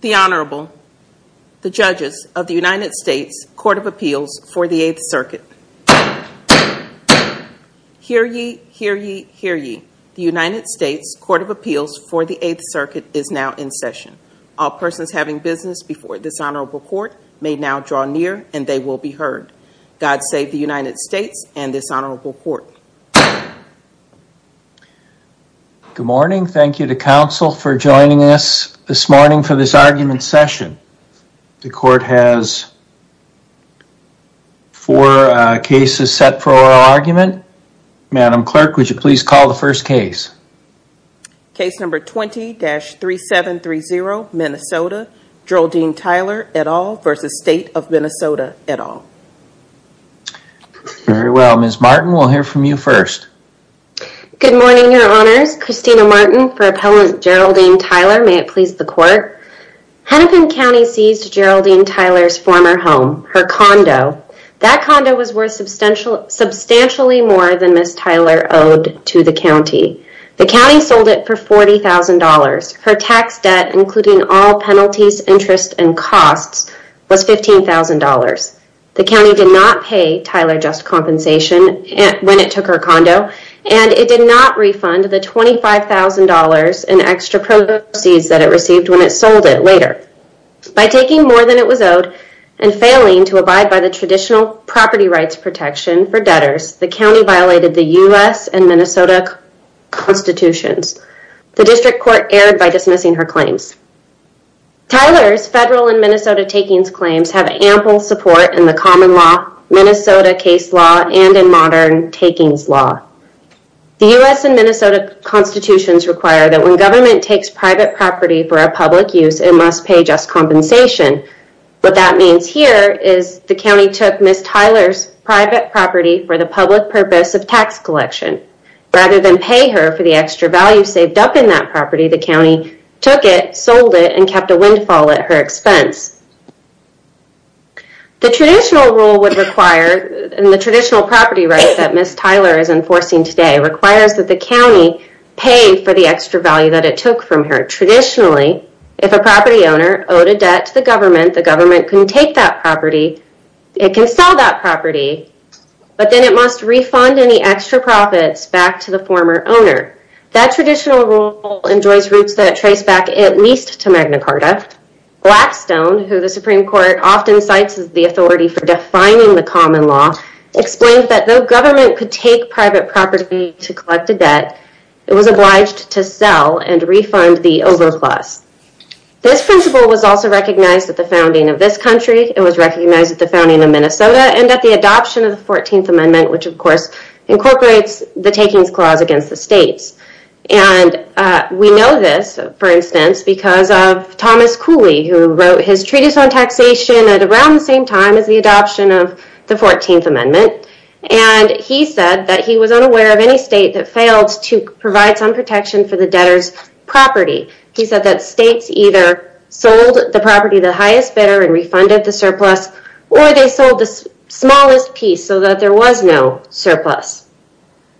The Honorable, the Judges of the United States Court of Appeals for the 8th Circuit. Hear ye, hear ye, hear ye. The United States Court of Appeals for the 8th Circuit is now in session. All persons having business before this Honorable Court may now draw near and they will be heard. God save the United States and this Honorable Court. Good morning. Thank you to counsel for joining us this morning for this argument session. The court has four cases set for our argument. Madam Clerk, would you please call the first case? Case number 20-3730, Minnesota. Geraldine Tyler et al. v. State of Minnesota et al. Very well. Ms. Martin, we'll hear from you first. Good morning, Your Honors. Christina Martin for Appellant Geraldine Tyler. May it please the court. Hennepin County seized Geraldine Tyler's former home, her condo. That condo was worth substantially more than Ms. Tyler owed to the county. The county sold it for $40,000. Her tax debt, including all penalties, interest, and costs, was $15,000. The county did not pay Tyler just compensation when it took her condo and it did not refund the $25,000 in extra proceeds that it received when it sold it later. By taking more than it was owed and failing to abide by the traditional property rights protection for debtors, the county violated the U.S. and Minnesota constitutions. The district court erred by dismissing her claims. Tyler's federal and Minnesota takings claims have ample support in the common law, Minnesota case law, and in modern takings law. The U.S. and Minnesota constitutions require that when government takes private property for a public use, it must pay just compensation. What that means here is the county took Ms. Tyler's private property for the public purpose of tax collection. Rather than pay her for the extra value saved up in that property, the county took it, sold it, and kept a windfall at her expense. The traditional rule would require, in the traditional property rights that Ms. Tyler is enforcing today, requires that the county pay for the extra value that it took from her. Traditionally, if a property owner owed a debt to the government, the government can take that extra profit back to the former owner. That traditional rule enjoys roots that trace back at least to Magna Carta. Blackstone, who the Supreme Court often cites as the authority for defining the common law, explained that though government could take private property to collect a debt, it was obliged to sell and refund the overplus. This principle was also recognized at the founding of this country, it was recognized at the founding of Minnesota, and at the adoption of the 14th Amendment, which, of course, incorporates the Takings Clause against the states. We know this, for instance, because of Thomas Cooley, who wrote his Treatise on Taxation at around the same time as the adoption of the 14th Amendment. He said that he was unaware of any state that failed to provide some protection for the debtor's property. He said that states either sold the property to the highest bidder and refunded the smallest piece so that there was no surplus.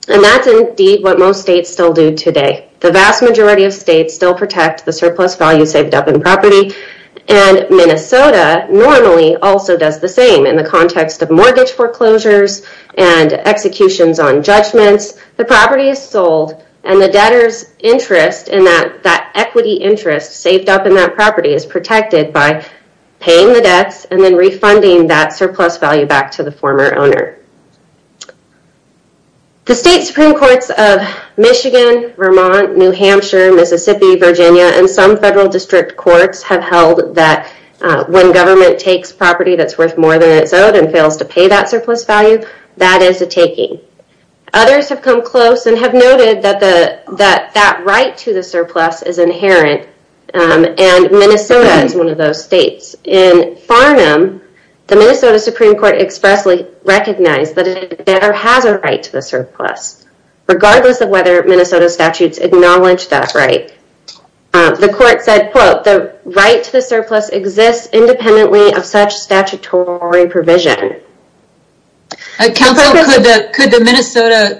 And that's indeed what most states still do today. The vast majority of states still protect the surplus value saved up in property, and Minnesota normally also does the same in the context of mortgage foreclosures and executions on judgments. The property is sold, and the debtor's equity interest saved up is protected by paying the debts and then refunding that surplus value back to the former owner. The state Supreme Courts of Michigan, Vermont, New Hampshire, Mississippi, Virginia, and some federal district courts have held that when government takes property that's worth more than it's owed and fails to pay that surplus value, that is a taking. Others have come close and have noted that that right to the surplus is inherent, and Minnesota is one of those states. In Farnham, the Minnesota Supreme Court expressly recognized that a debtor has a right to the surplus, regardless of whether Minnesota statutes acknowledge that right. The court said, quote, the right to the surplus exists independently of such statutory provision. Counsel, could the Minnesota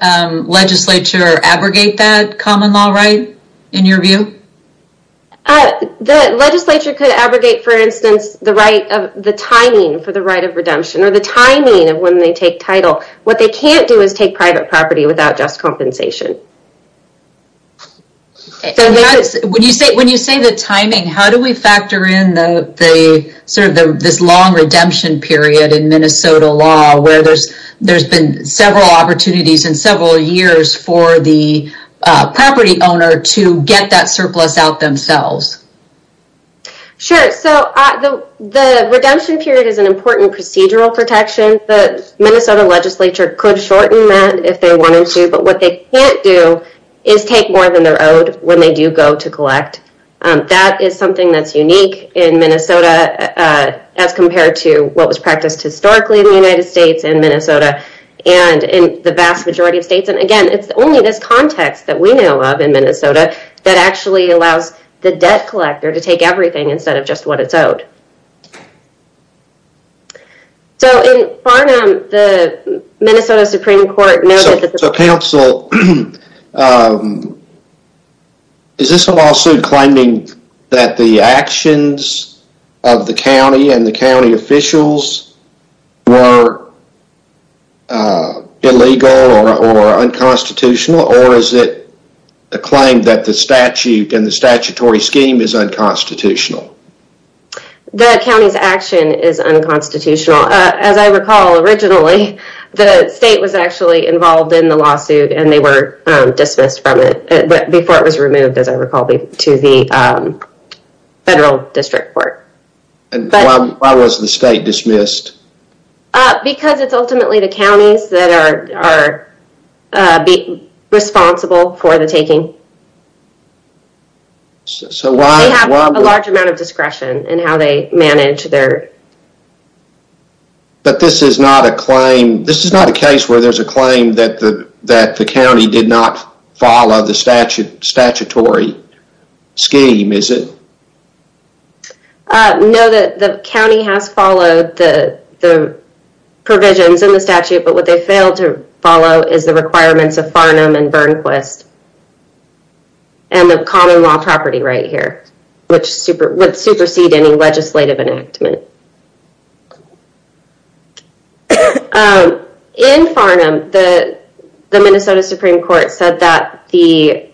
legislature abrogate that common law right, in your view? The legislature could abrogate, for instance, the right of the timing for the right of redemption, or the timing of when they take title. What they can't do is take private property without just compensation. When you say the timing, how do we factor in the sort of this long redemption period in Minnesota law, where there's been several opportunities in several years for the property owner to get that surplus out themselves? Sure, so the redemption period is an important procedural protection. The Minnesota legislature could shorten that if they wanted to, but what they can't do is take more than they're owed when they do go to collect. That is something that's unique in Minnesota, as compared to what was practiced historically in the United States and Minnesota, and in the vast majority of states. Again, it's only this context that we know of in Minnesota that actually allows the debt collector to take everything instead of just what it's owed. In Farnham, the Minnesota Supreme Court noted that- of the county and the county officials were illegal or unconstitutional, or is it a claim that the statute and the statutory scheme is unconstitutional? The county's action is unconstitutional. As I recall, originally, the state was actually involved in the lawsuit, and they were dismissed from it before it was reported. Why was the state dismissed? Because it's ultimately the counties that are responsible for the taking. So why- They have a large amount of discretion in how they manage their- But this is not a claim- this is not a case where there's a claim that the county did not follow the statutory scheme, is it? No, the county has followed the provisions in the statute, but what they failed to follow is the requirements of Farnham and Burnquist and the common law property right here, which supersede any legislative enactment. In Farnham, the Minnesota Supreme Court said that the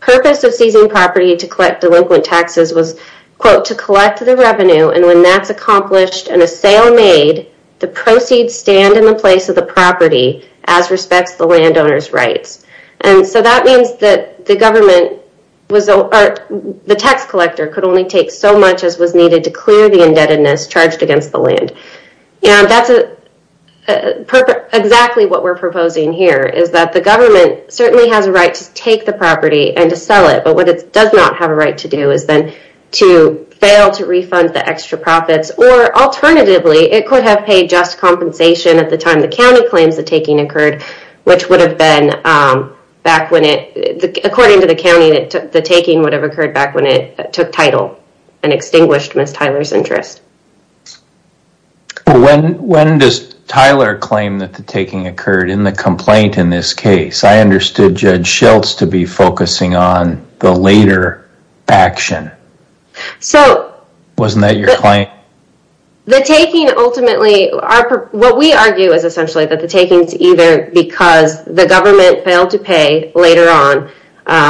purpose of seizing property to collect delinquent taxes was, quote, to collect the revenue, and when that's accomplished and a sale made, the proceeds stand in the place of the property as respects the landowner's rights. And so that means that the government was- or the tax collector could only take so much as was And that's exactly what we're proposing here, is that the government certainly has a right to take the property and to sell it, but what it does not have a right to do is then to fail to refund the extra profits, or alternatively, it could have paid just compensation at the time the county claims the taking occurred, which would have been back when it- according to the county, the taking would have occurred back when it took title and extinguished Ms. Tyler's interest. When does Tyler claim that the taking occurred in the complaint in this case? I understood Judge Schultz to be focusing on the later action. So- Wasn't that your claim? The taking ultimately- what we argue is essentially that the taking is either because the government failed to pay later on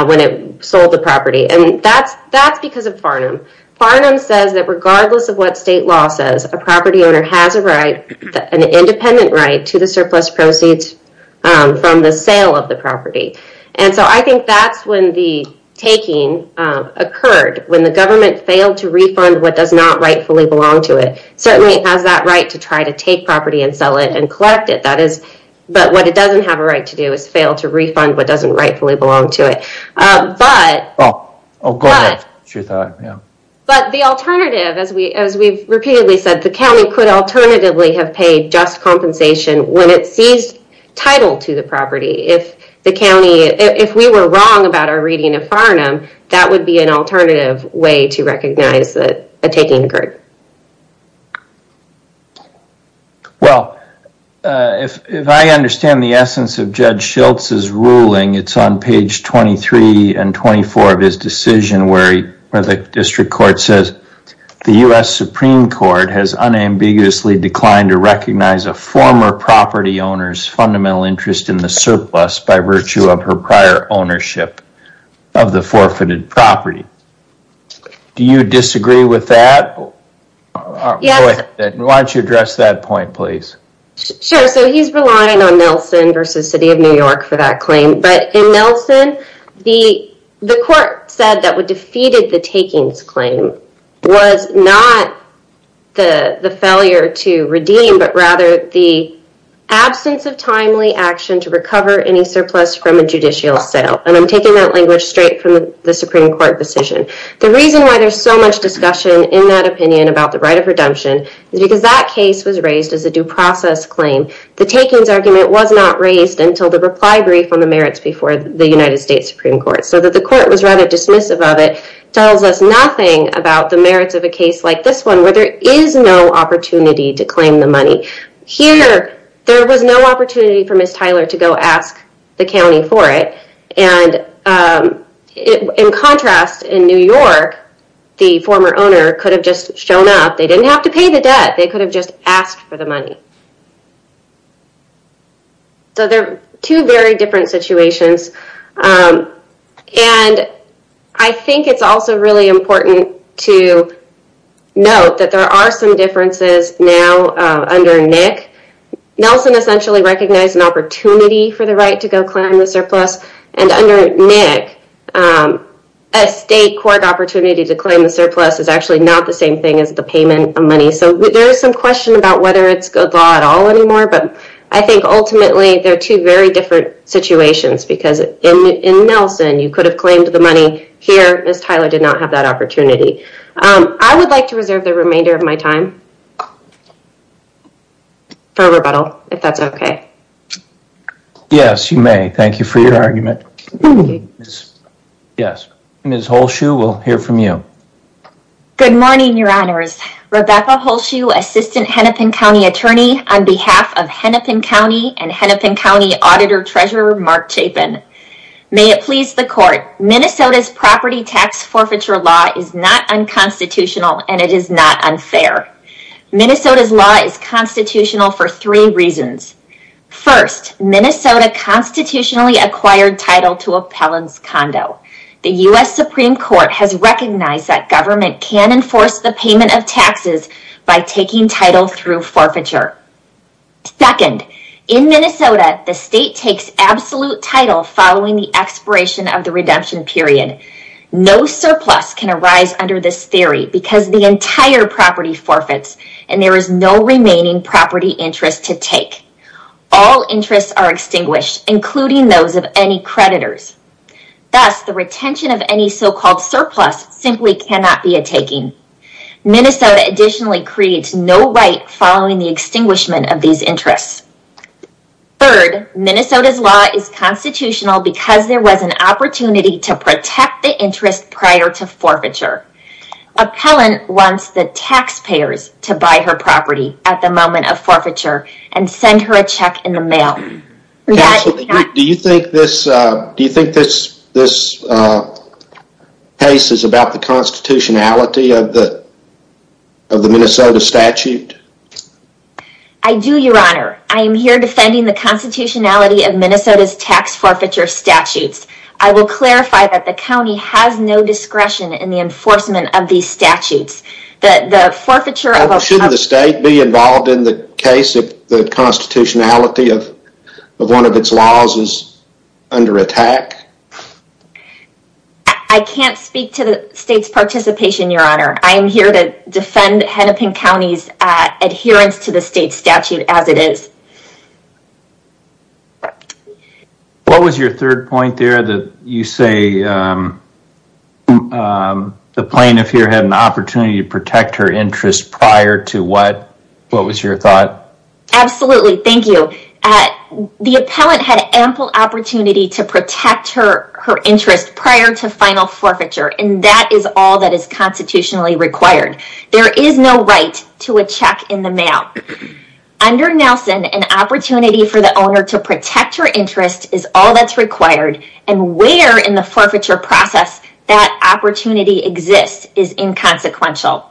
when it sold the property, and that's because of Farnham. Farnham says that regardless of what state law says, a property owner has a right, an independent right, to the surplus proceeds from the sale of the property. And so I think that's when the taking occurred, when the government failed to refund what does not rightfully belong to it. Certainly it has that right to try to take property and sell it and collect it, that is- but what it doesn't have a right to do is fail to refund what doesn't rightfully belong to it. But- But- But the alternative, as we've repeatedly said, the county could alternatively have paid just compensation when it seized title to the property. If the county- if we were wrong about our reading of Farnham, that would be an alternative way to recognize that a taking occurred. Well, if I understand the essence of Judge Schultz's ruling, it's on page 23 and 24 of his decision where the district court says, the U.S. Supreme Court has unambiguously declined to recognize a former property owner's fundamental interest in the surplus by virtue of her prior ownership of the forfeited property. Do you disagree with that? Yes. Why don't you address that point, please? Sure. So he's relying on Nelson versus City of New York for that claim. But in Nelson, the court said that what defeated the takings claim was not the failure to redeem, but rather the absence of timely action to recover any surplus from a judicial sale. And I'm taking that language straight from the Supreme Court decision. The reason why there's so much discussion in that opinion about the right of redemption is because that case was raised as a due process claim. The takings argument was not raised until the reply brief on the merits before the United States Supreme Court. So that the court was rather dismissive of it, tells us nothing about the merits of a case like this one where there is no opportunity to claim the money. Here, there was no opportunity for Ms. Tyler to go ask the county for it. And in contrast, in New York, the former owner could have just shown up. They didn't have to pay the debt. They could have just asked for the money. So they're two very different situations. And I think it's also really important to note that there are some differences now under Nick. Nelson essentially recognized an opportunity for the right to go claim the surplus. And under Nick, a state court opportunity to claim the surplus is actually not the same thing as the payment of money. So there is some question about whether it's good law at all anymore. But I think ultimately, they're two very different situations. Because in Nelson, you could have claimed the money. Here, Ms. Tyler did not have that opportunity. I would like to reserve the remainder of my time for rebuttal, if that's okay. Yes, you may. Thank you for your argument. Yes, Ms. Holshue, we'll hear from you. Good morning, your honors. Rebecca Holshue, Assistant Hennepin County Attorney on behalf of Hennepin County and Hennepin County Auditor Treasurer Mark Chapin. May it please the court, Minnesota's property tax forfeiture law is not unconstitutional and it is not unfair. Minnesota's law is constitutional for three reasons. First, Minnesota constitutionally acquired title to appellant's condo. The U.S. Supreme Court has recognized that government can enforce the payment of taxes by taking title through forfeiture. Second, in Minnesota, the state takes absolute title following the expiration of the redemption period. No surplus can arise under this theory because the entire property forfeits and there is no remaining property interest to take. All interests are extinguished, including those of any creditors. Thus, the retention of any so-called surplus simply cannot be a taking. Minnesota additionally creates no right following the extinguishment of these interests. Third, Minnesota's law is constitutional because there was an opportunity to protect the interest prior to forfeiture. Appellant wants the taxpayers to buy her property at the moment of forfeiture and send her a check in the mail. Counsel, do you think this case is about the constitutionality of the Minnesota statute? I do, your honor. I am here defending the constitutionality of Minnesota's tax forfeiture statutes. I will clarify that the county has no discretion in the enforcement of these statutes. Shouldn't the state be involved in the case if the constitutionality of one of its laws is under attack? I can't speak to the state's participation, your honor. I am here to defend Hennepin County's adherence to the state statute as it is. What was your third point there that you say the plaintiff here had an opportunity to protect her interest prior to what? What was your thought? Absolutely, thank you. The appellant had ample opportunity to protect her interest prior to final forfeiture and that is all that is required and where in the forfeiture process that opportunity exists is inconsequential.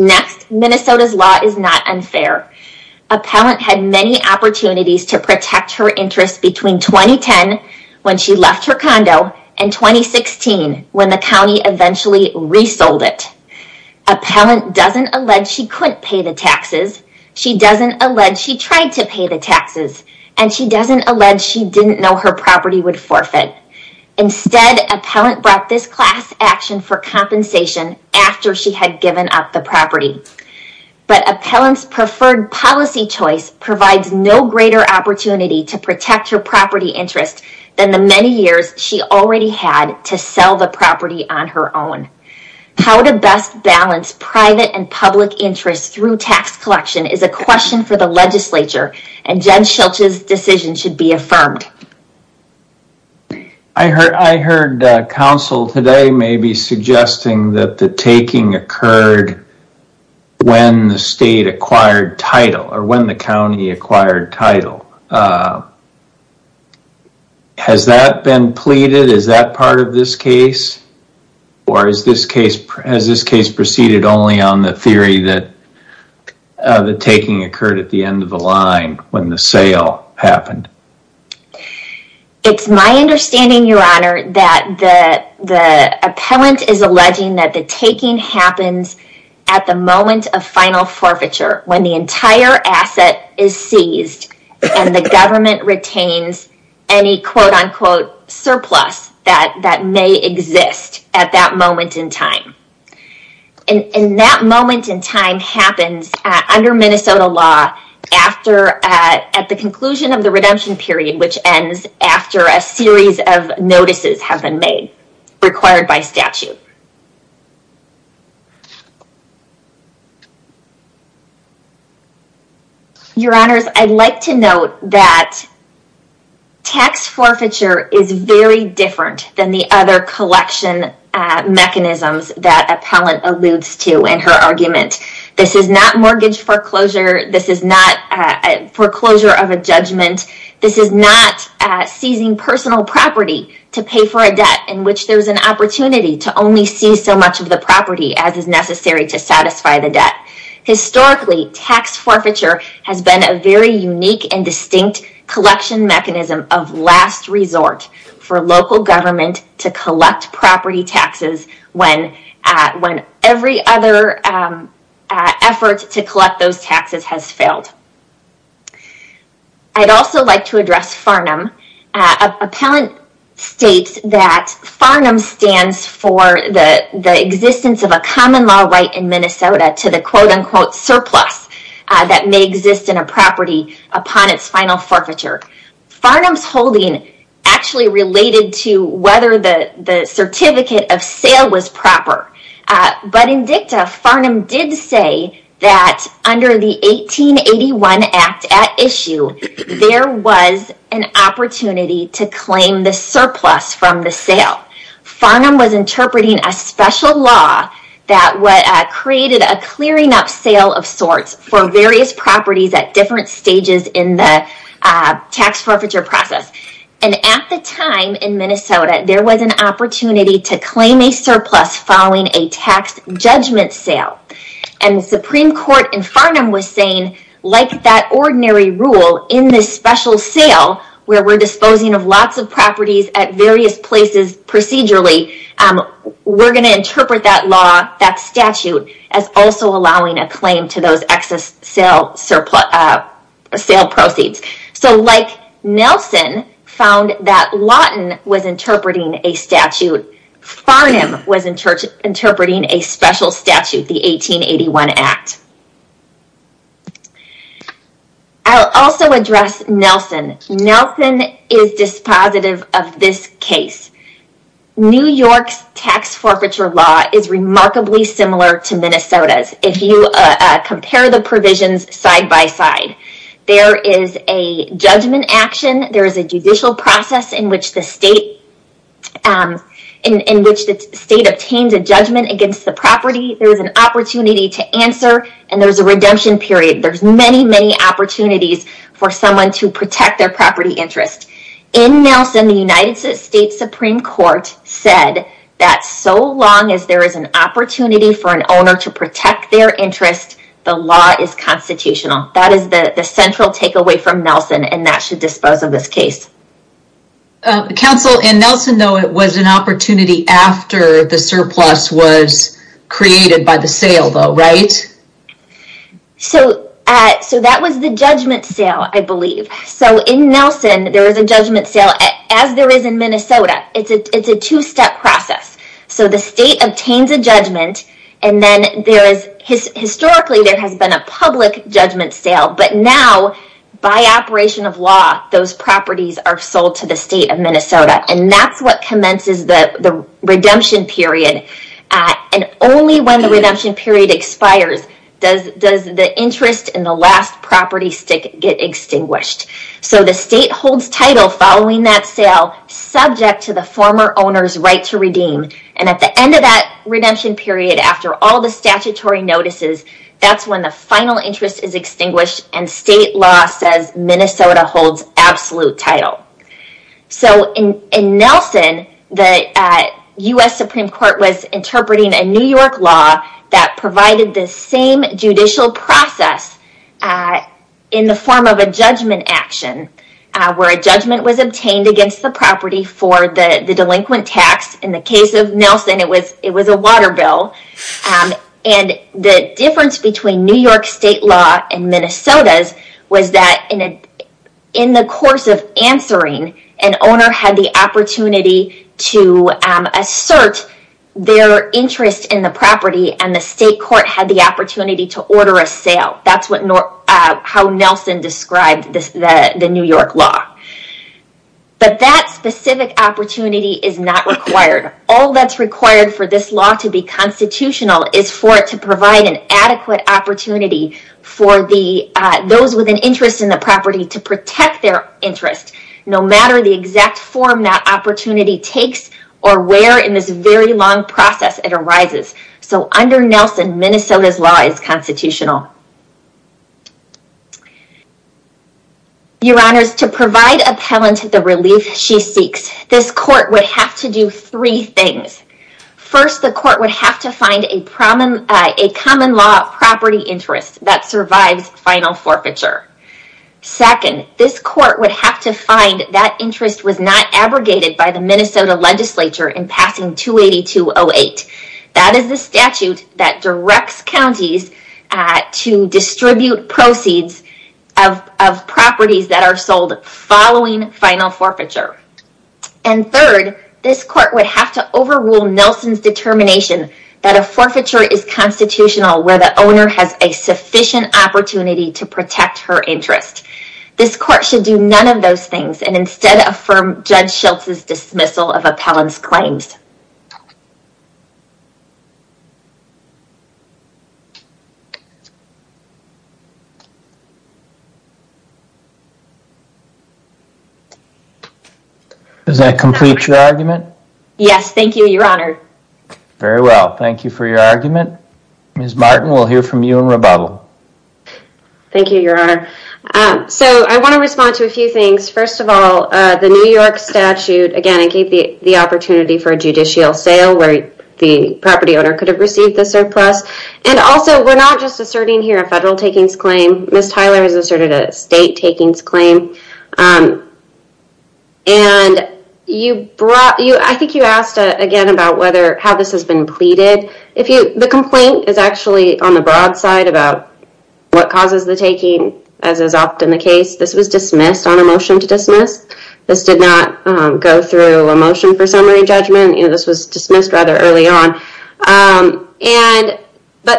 Next, Minnesota's law is not unfair. Appellant had many opportunities to protect her interest between 2010 when she left her condo and 2016 when the county eventually resold it. Appellant doesn't allege she couldn't pay the taxes, she doesn't allege she tried to pay the taxes, and she doesn't allege she didn't know her property would forfeit. Instead, appellant brought this class action for compensation after she had given up the property, but appellant's preferred policy choice provides no greater opportunity to protect her property interest than the many years she already had to sell the property on her own. How to best balance private and public interests through tax collection is a question for the legislature and Jen Schilch's decision should be affirmed. I heard counsel today maybe suggesting that the taking occurred when the state acquired title or when the county acquired title. Has that been pleaded? Is that part of this case or has this case proceeded only on the theory that the taking occurred at the end of the line when the sale happened? It's my understanding, that the appellant is alleging that the taking happens at the moment of final forfeiture when the entire asset is seized and the government retains any quote-unquote surplus that may exist at that moment in time. That moment in time happens under Minnesota law at the conclusion of the redemption period which ends after a series of notices have been made required by statute. Your honors, I'd like to note that tax forfeiture is very different than the other collection mechanisms that appellant alludes to in her argument. This is not mortgage foreclosure, this is not foreclosure of a judgment, this is not seizing personal property to pay for a debt in which there's an opportunity to only seize so much of the property as is necessary to satisfy the debt. Historically, tax forfeiture has been a very unique and distinct collection mechanism of last resort for local government to collect property taxes when every other effort to has failed. I'd also like to address Farnham. Appellant states that Farnham stands for the existence of a common law right in Minnesota to the quote-unquote surplus that may exist in a property upon its final forfeiture. Farnham's holding actually related to whether the certificate of sale was proper. But in dicta, Farnham did say that under the 1881 act at issue there was an opportunity to claim the surplus from the sale. Farnham was interpreting a special law that created a clearing up sale of sorts for various properties at different stages in the tax forfeiture process. At the time in Minnesota there was an opportunity to claim a surplus following a tax judgment sale. The Supreme Court in Farnham was saying like that ordinary rule in this special sale where we're disposing of lots of properties at various places procedurally, we're going to interpret that law, that statute, as also allowing a claim to those excess sale proceeds. So like Nelson found that Lawton was interpreting a statute, Farnham was interpreting a special statute, the 1881 act. I'll also address Nelson. Nelson is dispositive of this case. New York's tax forfeiture law is a judgment action. There is a judicial process in which the state obtains a judgment against the property. There is an opportunity to answer and there's a redemption period. There's many, many opportunities for someone to protect their property interest. In Nelson, the United States Supreme Court said that so long as there is an opportunity for an owner to protect their interest, the law is constitutional. That is the central takeaway from Nelson and that should dispose of this case. Counsel, in Nelson though it was an opportunity after the surplus was created by the sale though, right? So that was the judgment sale, I believe. So in Nelson there is a judgment sale as there is in Minnesota. It's a two-step process. So the state obtains a judgment and then historically there has been a public judgment sale. But now by operation of law, those properties are sold to the state of Minnesota and that's what commences the redemption period. And only when the redemption period expires does the interest in the last property stick get extinguished. So the state holds title following that sale subject to the after all the statutory notices. That's when the final interest is extinguished and state law says Minnesota holds absolute title. So in Nelson, the U.S. Supreme Court was interpreting a New York law that provided the same judicial process in the form of a judgment action where a judgment was obtained against the property for the delinquent tax. In the case of Nelson, it was a water bill and the difference between New York state law and Minnesota's was that in the course of answering, an owner had the opportunity to assert their interest in the property and the state court had the opportunity to order a sale. That's how Nelson described the New York law. But that specific opportunity is not required. All that's required for this law to be constitutional is for it to provide an adequate opportunity for those with an interest in the property to protect their interest no matter the exact form that opportunity takes or where in this very long process it arises. So under Nelson, Minnesota's law is constitutional. Your Honors, to provide appellant the relief she seeks, this court would have to do three things. First, the court would have to find a common law property interest that survives final forfeiture. Second, this court would have to find that interest was not abrogated by the Minnesota legislature in passing 282.08. That is the statute that directs counties at the distribute proceeds of properties that are sold following final forfeiture. And third, this court would have to overrule Nelson's determination that a forfeiture is constitutional where the owner has a sufficient opportunity to protect her interest. This court should do none of those things and instead affirm Judge Schultz's dismissal of appellant's claims. Does that complete your argument? Yes, thank you, Your Honor. Very well, thank you for your argument. Ms. Martin, we'll hear from you in rebuttal. Thank you, Your Honor. So I want to respond to a few things. First of all, the New York statute again gave the opportunity for a judicial sale where the property owner could have received the surplus. And also, we're not just asserting here a federal takings claim. Ms. Tyler has asserted a state takings claim. And I think you asked again about how this has been pleaded. The complaint is actually on the broad side about what causes the taking as is often the case. This was dismissed on a motion to dismiss. This did not go through a motion for summary on.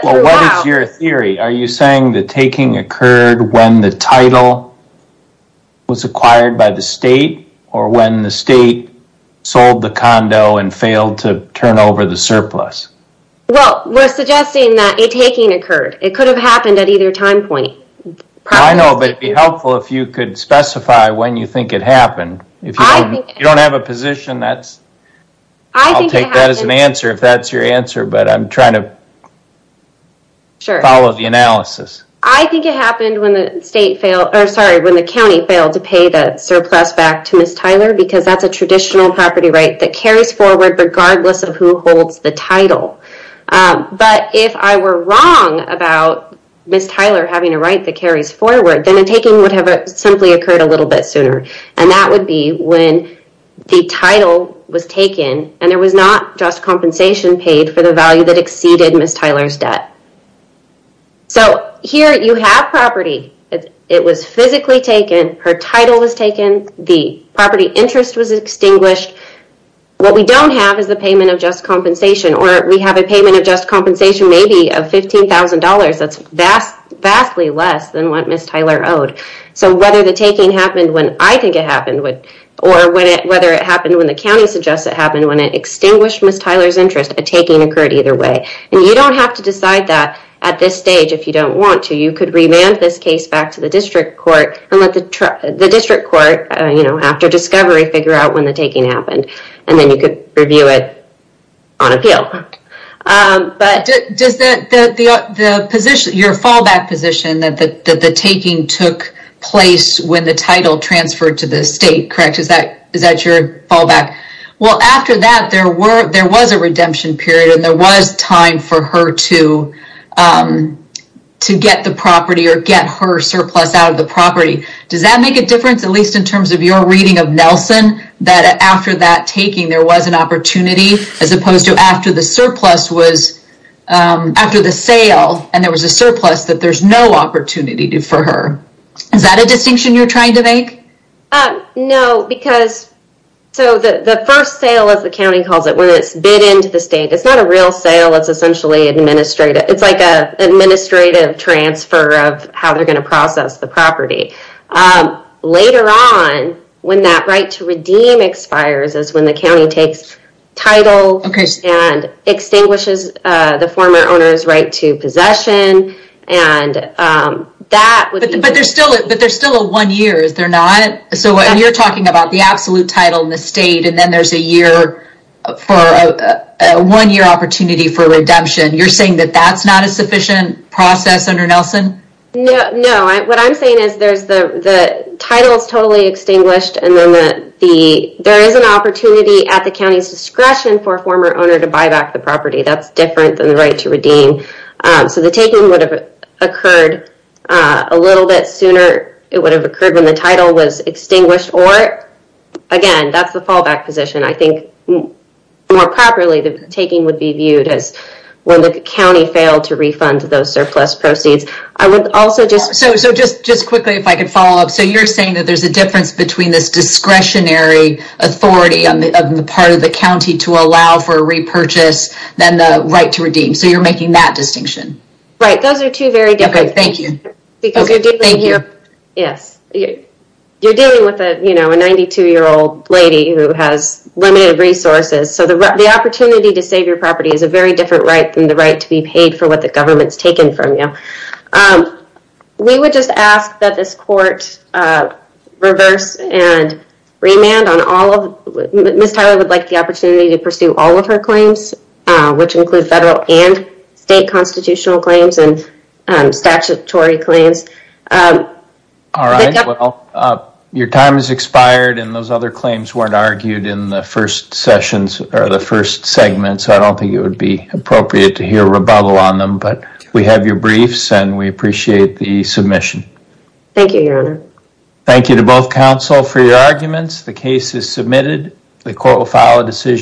What is your theory? Are you saying the taking occurred when the title was acquired by the state or when the state sold the condo and failed to turn over the surplus? Well, we're suggesting that a taking occurred. It could have happened at either time point. I know, but it'd be helpful if you could specify when you think it happened. If you don't have a position, I'll take that as an answer if that's your answer, but I'm trying to follow the analysis. Sure. I think it happened when the county failed to pay the surplus back to Ms. Tyler because that's a traditional property right that carries forward regardless of who holds the title. But if I were wrong about Ms. Tyler having a right that carries forward, then a taking would have simply occurred a little bit and there was not just compensation paid for the value that exceeded Ms. Tyler's debt. So, here you have property. It was physically taken. Her title was taken. The property interest was extinguished. What we don't have is the payment of just compensation or we have a payment of just compensation maybe of $15,000. That's vastly less than what Ms. Tyler owed. So, whether the taking happened when I think it happened or whether it happened when the county suggests it happened, when it extinguished Ms. Tyler's interest, a taking occurred either way. And you don't have to decide that at this stage if you don't want to. You could remand this case back to the district court and let the district court, you know, after discovery figure out when the taking happened and then you could review it on appeal. Does your fallback position that the taking took place when the title transferred to the state, correct? Is that your fallback? Well, after that, there was a redemption period and there was time for her to to get the property or get her surplus out of the property. Does that make a difference, at least in terms of your reading of Nelson, that after that taking there was an opportunity as opposed to after the surplus was after the sale and there was a surplus that there's no opportunity for her? Is that a distinction you're trying to make? No, because the first sale, as the county calls it, when it's bid into the state, it's not a real sale. It's essentially administrative. It's like an administrative transfer of how they're going to process the property. Later on, when that right to redeem expires is when the county takes title and extinguishes the former owner's right to possession. But there's still a one year, is there not? So when you're talking about the absolute title in the state and then there's a one-year opportunity for redemption, you're saying that that's not a sufficient process under Nelson? No, what I'm saying is the title is totally extinguished and then there is an opportunity to redeem the property. That's different than the right to redeem. So the taking would have occurred a little bit sooner. It would have occurred when the title was extinguished or, again, that's the fallback position. I think more properly, the taking would be viewed as when the county failed to refund those surplus proceeds. I would also just- So just quickly, if I could follow up. So you're saying that there's a difference between this than the right to redeem. So you're making that distinction? Right. Those are two very different- Okay, thank you. Yes. You're dealing with a 92-year-old lady who has limited resources. So the opportunity to save your property is a very different right than the right to be paid for what the government's taken from you. We would just ask that this court reverse and remand on all of- Ms. Tyler would like the opportunity to pursue all of her claims, which include federal and state constitutional claims and statutory claims. All right. Well, your time has expired and those other claims weren't argued in the first sessions or the first segments. I don't think it would be appropriate to hear rebuttal on them, but we have your briefs and we appreciate the submission. Thank you, Your Honor. Thank you to both counsel for your arguments. The case is submitted. The court will file a decision.